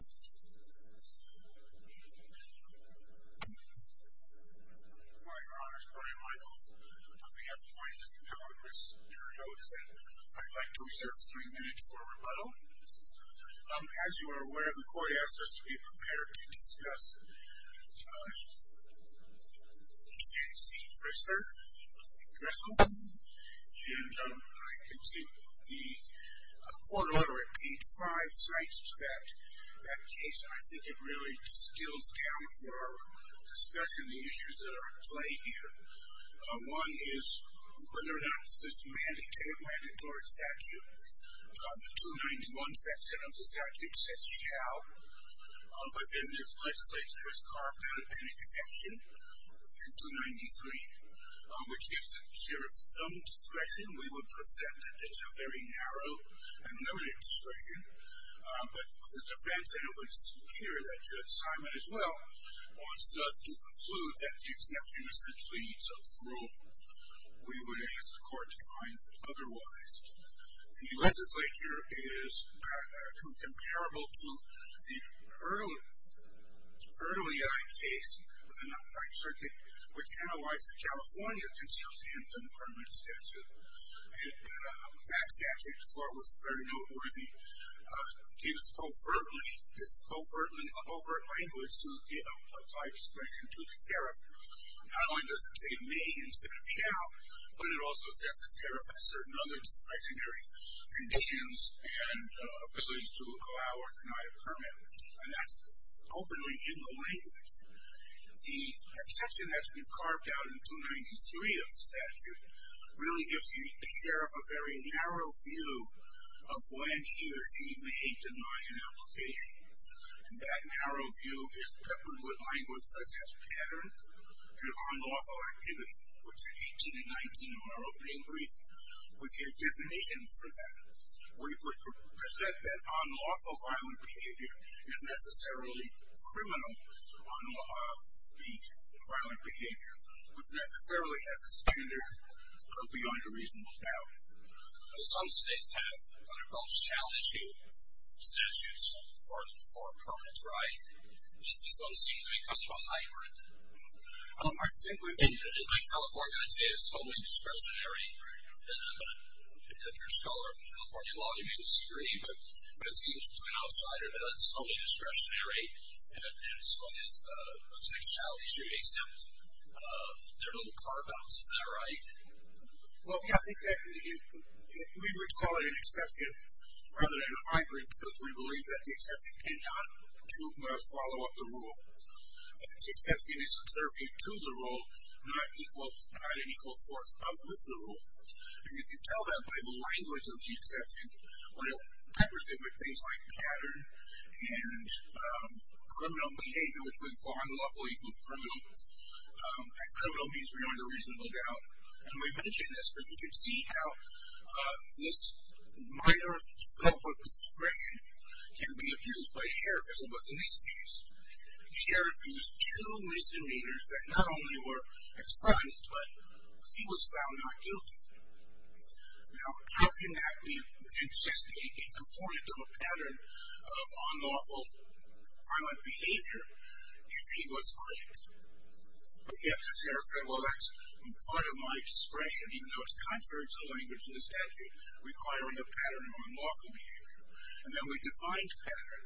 My Honors, Brian Michaels, on behalf of the Plaintiffs' Appeal Office, your notice that I'd like to reserve three minutes for rebuttal. As you are aware, the court asked us to be prepared to discuss the exchange procedure. I can see the court ordered to repeat five sites to that case. I think it really stills down for discussion the issues that are at play here. One is whether or not this is a mandatory statute. The 291 section of the statute says shall, but then the legislature has carved out an exception in 293, which gives the sheriff some discretion. We would present that there's a very narrow and limited discretion, but with the defense that it would appear that Judge Simon, as well, wants us to conclude that the exception essentially eats up the rule. We would ask the court to find otherwise. The legislature is comparable to the Erdelyi case in the Ninth Circuit, which analyzed the California Concealed Handgun Permanent Statute. That statute, the court was very noteworthy, gave us this overt language to apply discretion to the sheriff. Not only does it say may instead of shall, but it also says the sheriff has certain other discretionary conditions and abilities to allow or deny a permit, and that's openly in the language. The exception that's been carved out in 293 of the statute really gives the sheriff a very narrow view of when he or she may deny an application. That narrow view is peppered with language such as patterned and unlawful activity, which in 18 and 19 in our opening brief would give definitions for that. We would present that unlawful violent behavior is necessarily criminal, unlawful violent behavior, which necessarily has a standard of beyond a reasonable doubt. Some states have what are called shall-issue statutes for a permanent right. This one seems to be kind of a hybrid. In California, I'd say it's totally discretionary. I'm an adventurous scholar of California law. You may disagree, but it seems to an outsider that it's totally discretionary, and this one looks like shall-issue, except there are no carve-outs. Is that right? Well, yeah, I think that we would call it an exception rather than a hybrid because we believe that the exception cannot follow up the rule. The exception is subservient to the rule, not an equal force with the rule, and you can tell that by the language of the exception. When it's peppered with things like pattern and criminal behavior, which we would call unlawful equals criminal, and criminal means beyond a reasonable doubt, and we mention this because you can see how this minor scope of discretion can be abused by a sheriff as it was in this case. The sheriff used two misdemeanors that not only were expressed, but he was found not guilty. Now, how can that be just a component of a pattern of unlawful, violent behavior if he was quick? The sheriff said, well, that's part of my discretion, even though it's contrary to the language in the statute, requiring a pattern of unlawful behavior. And then we defined pattern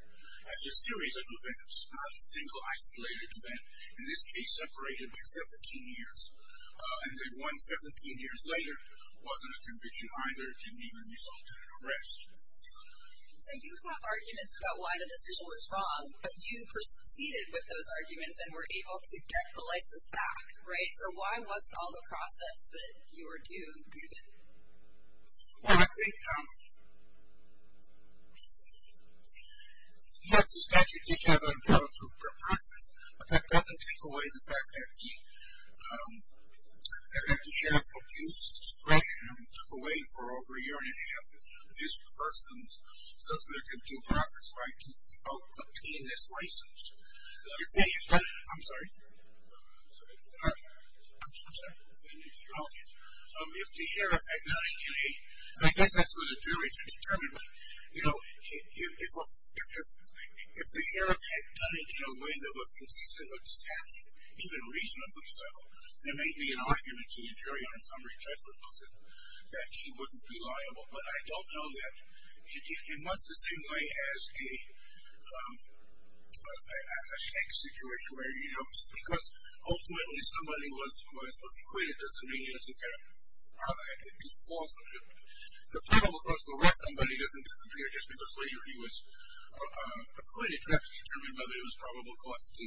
as a series of events, not a single isolated event, in this case separated by 17 years. And the one 17 years later wasn't a conviction either. It didn't even result in an arrest. So you have arguments about why the decision was wrong, but you proceeded with those arguments and were able to get the license back, right? So why wasn't all the process that you were due given? Well, I think, yes, the statute did have an unlawful process, but that doesn't take away the fact that the sheriff abused discretion and took away for over a year and a half these persons so that they could do process right to obtain this license. I'm sorry. I'm sorry. I'm sorry. Okay. If the sheriff had done it in a, I guess that's for the jury to determine, but, you know, if the sheriff had done it in a way that was consistent with the statute, even reasonably so, there may be an argument to the jury on a summary judgment that he wouldn't be liable. But I don't know that. In much the same way as a shack situation where, you know, just because ultimately somebody was acquitted doesn't mean it doesn't have to be falsified. The probable cause to arrest somebody doesn't disappear just because later he was acquitted. You have to determine whether it was probable cause to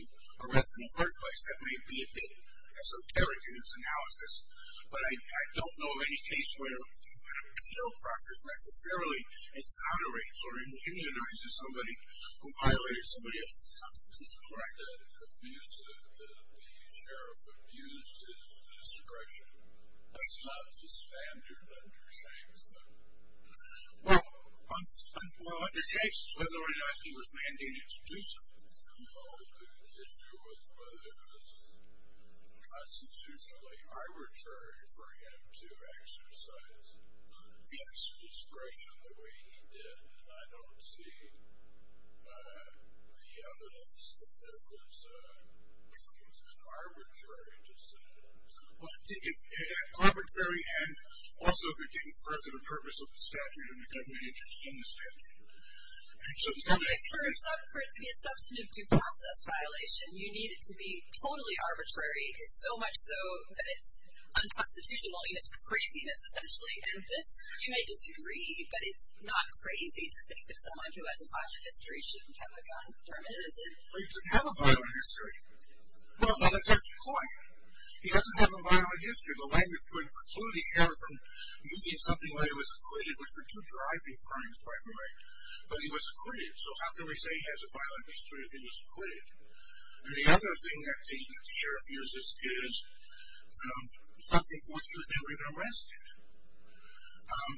arrest in the first place. That may be a bit esoteric in its analysis, but I don't know of any case where the appeal process necessarily exonerates or inhumanizes somebody who violated somebody else's constitution. Correct. The sheriff abused his discretion. That's not the standard under Shakespeare. Well, under Shakespeare's order he was mandated to do something. No, the issue was whether it was constitutionally arbitrary for him to exercise his discretion the way he did. And I don't see the evidence that there was an arbitrary decision. It's arbitrary and also if you're getting further to the purpose of the statute and you're going to be interested in the statute. I think for it to be a substantive due process violation, you need it to be totally arbitrary, so much so that it's unconstitutional and it's craziness essentially. And this, you may disagree, but it's not crazy to think that someone who has a violent history shouldn't have a gun determined, is it? Well, he doesn't have a violent history. Well, let's just point. He doesn't have a violent history. The language would preclude the error from using something while he was acquitted, which were two driving crimes, by the way, while he was acquitted. So how can we say he has a violent history if he was acquitted? And the other thing that the sheriff uses is something for which he was never even arrested. And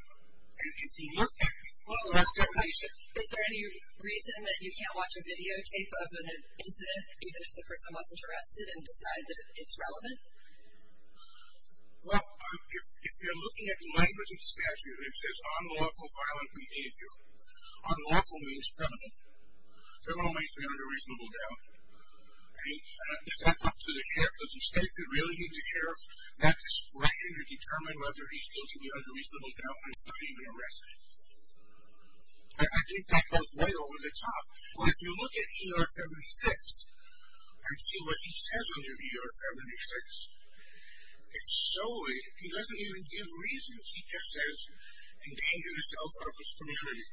if you look at, well, that's separation. Is there any reason that you can't watch a videotape of an incident, even if the person wasn't arrested, and decide that it's relevant? Well, if you're looking at the language of the statute, it says unlawful violent behavior. Unlawful means criminal. Criminal means to be under reasonable doubt. If that's up to the sheriff, does the statute really need the sheriff that discretion to determine whether he's guilty under reasonable doubt and is not even arrested? I think that goes way over the top. Well, if you look at ER-76 and see what he says under ER-76, it's so he doesn't even give reasons. He just says endanger the self-office community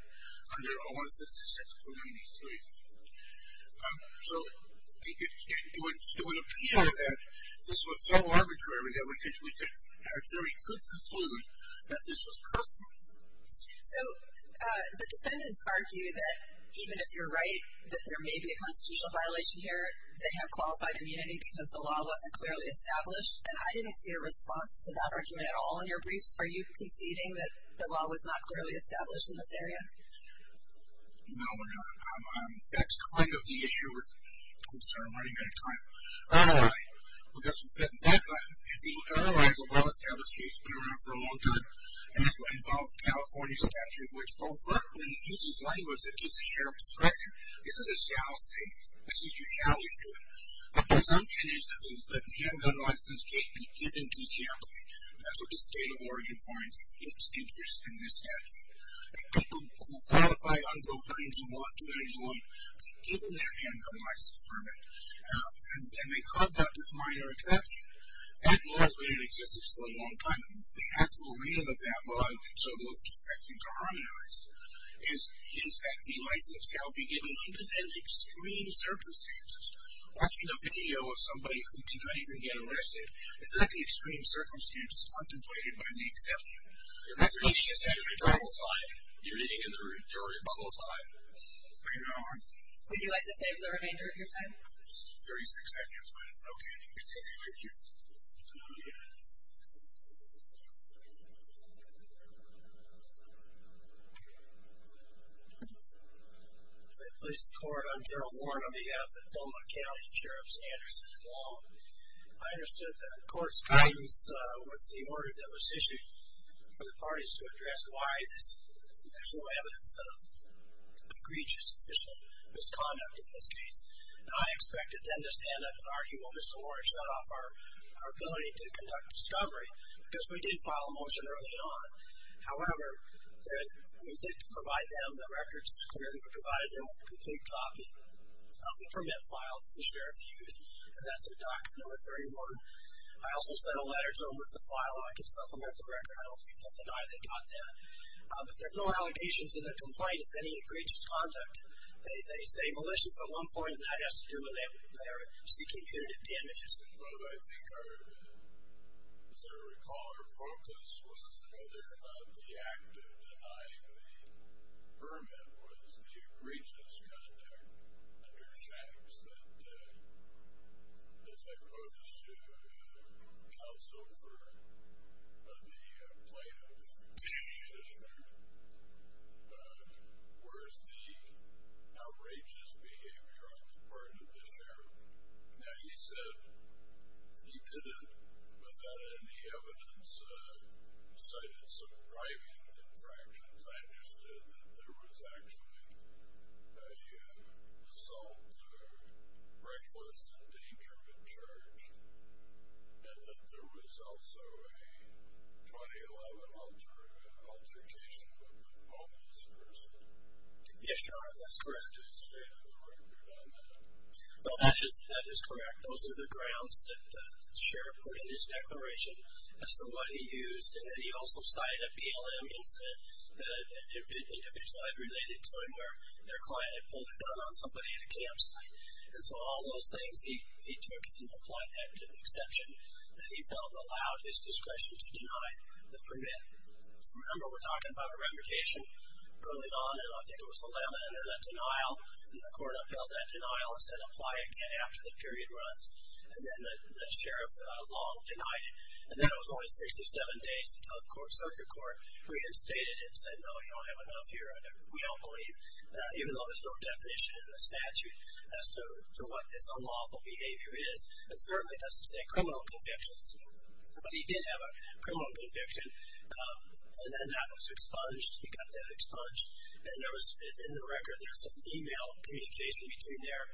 under OR-166-293. So it would appear that this was so arbitrary that we could conclude that this was personal. So the defendants argue that even if you're right, that there may be a constitutional violation here, they have qualified immunity because the law wasn't clearly established. And I didn't see a response to that argument at all in your briefs. Are you conceding that the law was not clearly established in this area? No, we're not. That's kind of the issue with the concern. I'm running out of time. ROI. We've got some fit in that one. The ROI is a well-established case. It's been around for a long time. And it involves California statute, which when it uses language that gives the sheriff discretion, this is a shall state. This is a shall issue. The presumption is that the gun license can't be given decamply. That's what the state of Oregon finds its interest in this statute. The people who qualify under 1921, given their handgun license permit, and they clubbed out this minor exception, that law has been in existence for a long time. The actual reason of that law, and so those defections are harmonized, is that the license shall be given under then extreme circumstances. Watching a video of somebody who did not even get arrested, is that the extreme circumstances contemplated by the exception? You're meeting in the rebuttal time. Would you like to say for the remainder of your time? Thirty-six seconds, ma'am. Okay. Thank you. Good morning, police department. I'm Daryl Warren on behalf of the Thelma County Sheriff's Anderson Law. I understood the court's guidance with the order that was issued for the parties to address why there's no evidence of egregious official misconduct in this case. I expected then to stand up and argue, well, Mr. Warren shut off our ability to conduct discovery, because we did file a motion early on. However, we did provide them the records, provided them with a complete copy of the permit file that the sheriff used, and that's in Document Number 31. I also sent a letter to them with the file. I can supplement the record. I don't think they'll deny they got that. But there's no allegations in the complaint of any egregious conduct. They say malicious at one point, and that has to do with their seeking punitive damages. Well, I think our, as I recall, our focus was whether the act of denying the permit was the egregious conduct under Shafts that, as I posed to counsel for the plaintiff, the sheriff, was the outrageous behavior on the part of the sheriff. Now, he said he did it without any evidence, cited some driving infractions. I understood that there was actually an assault, a reckless endangerment charge, and that there was also a 2011 altercation with a homeless person. Yes, Your Honor, that's correct. That's the state of the record on that. Well, that is correct. Those are the grounds that the sheriff put in his declaration as to what he used. And then he also cited a BLM incident, an individual I've related to him, where their client had pulled a gun on somebody at a campsite. And so all those things he took and applied that to the exception that he felt allowed his discretion to deny the permit. Remember, we're talking about remuneration. Early on, I think it was 11, and then a denial. And the court upheld that denial and said apply again after the period runs. And then the sheriff long denied it. And then it was only 67 days until the circuit court reinstated it and said, no, you don't have enough here. We don't believe, even though there's no definition in the statute as to what this unlawful behavior is, it certainly doesn't say criminal convictions here. But he did have a criminal conviction, and then that was expunged. He got that expunged. And in the record, there's an e-mail communication between their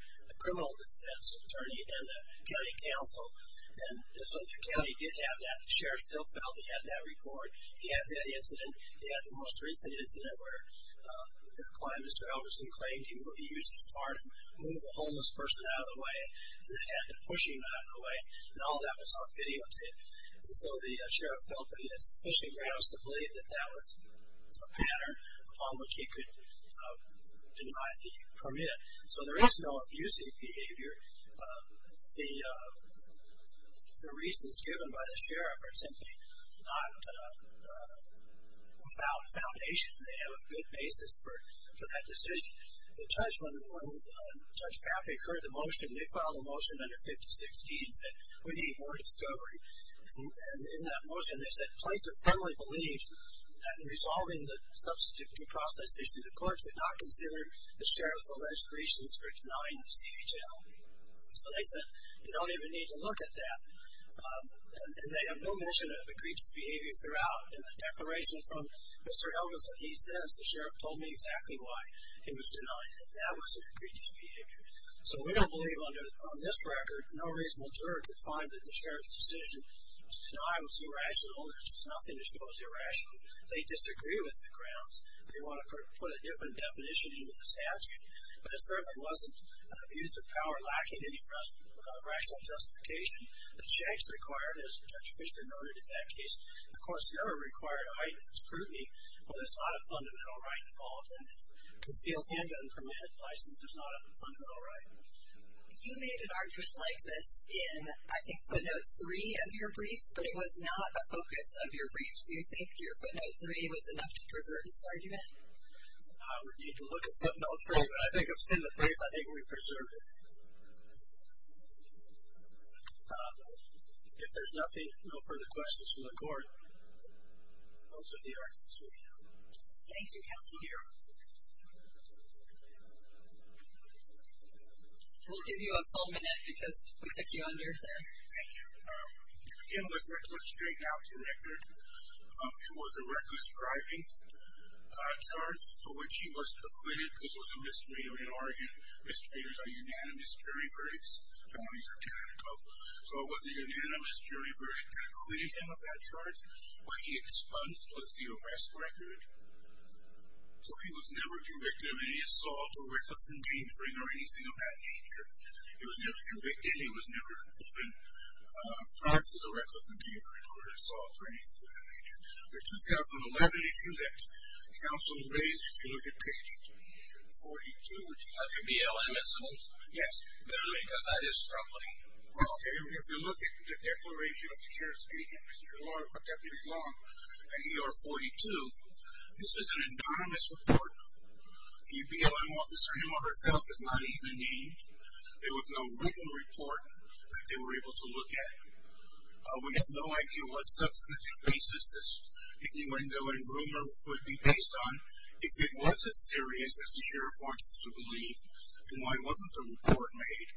criminal defense attorney and the county council. And so the county did have that. The sheriff still felt he had that report. He had that incident. He had the most recent incident where their client, Mr. Albertson, claimed he used his car to move a homeless person out of the way and then had to push him out of the way. And all that was on videotape. And so the sheriff felt that he had sufficient grounds to believe that that was a pattern upon which he could deny the permit. So there is no abusing behavior. The reasons given by the sheriff are simply not without foundation. They have a good basis for that decision. The judge, when Judge Paffey heard the motion, they filed a motion under 5016 and said, we need more discovery. And in that motion, they said, Plaintiff firmly believes that in resolving the substitute due process issue, the court should not consider the sheriff's alleged reasons for denying the CHL. So they said, you don't even need to look at that. And they have no notion of egregious behavior throughout. In the declaration from Mr. Albertson, he says, the sheriff told me exactly why he was denying it. That was an egregious behavior. So we don't believe, on this record, no reasonable juror could find that the sheriff's decision to deny was irrational. There's nothing to show as irrational. They disagree with the grounds. They want to put a different definition into the statute. But it certainly wasn't an abuse of power lacking any rational justification. The checks required, as Judge Fischer noted in that case, the courts never required a heightened scrutiny where there's not a fundamental right involved. And concealed handgun permit license is not a fundamental right. You made an argument like this in, I think, footnote three of your brief, but it was not a focus of your brief. Do you think your footnote three was enough to preserve this argument? I would need to look at footnote three. But I think I've seen the brief. I think we've preserved it. If there's nothing, no further questions from the court, those of you are excused now. Thank you, Counselor. We'll give you a full minute because we took you under there. Thank you. To begin with, let's straighten out the record. It was a reckless driving charge for which he was acquitted because it was a misdemeanor in Oregon. Misdemeanors are unanimous jury verdicts. Felonies are ten and above. So it was a unanimous jury verdict that acquitted him of that charge. What he expunged was the arrest record. So he was never convicted of any assault or reckless endangering or anything of that nature. He was never convicted. And he was never charged with a reckless endangering or an assault or anything of that nature. The 2011 issues that Counsel raised, if you look at page 42, which has your BLM essays. Yes, because that is troubling. Well, if you look at the declaration of the sheriff's agent, Mr. Deputy Long, at ER 42, this is an anonymous report. The BLM officer himself is not even named. There was no written report that they were able to look at. We have no idea what substance he faces this, even though a rumor would be based on if it was as serious as the sheriff wants us to believe. And why wasn't the report made?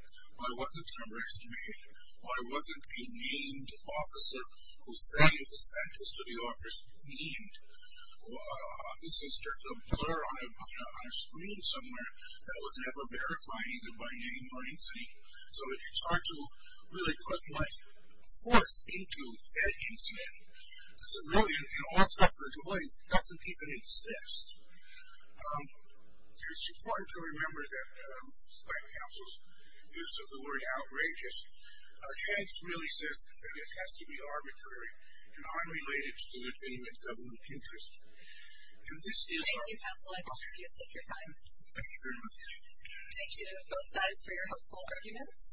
Why wasn't the arrest made? Why wasn't the named officer who sent the sentence to the officer named? This is just a blur on a screen somewhere that was never verified either by name or incident. So it's hard to really put much force into that incident. Because a rule in all suffrage avoidance doesn't even exist. It's important to remember that, despite Counsel's use of the word outrageous, Chance really says that it has to be arbitrary and unrelated to the legitimate government interest. Thank you, Counsel. I appreciate your time. Thank you very much. Thank you to both sides for your hopeful arguments.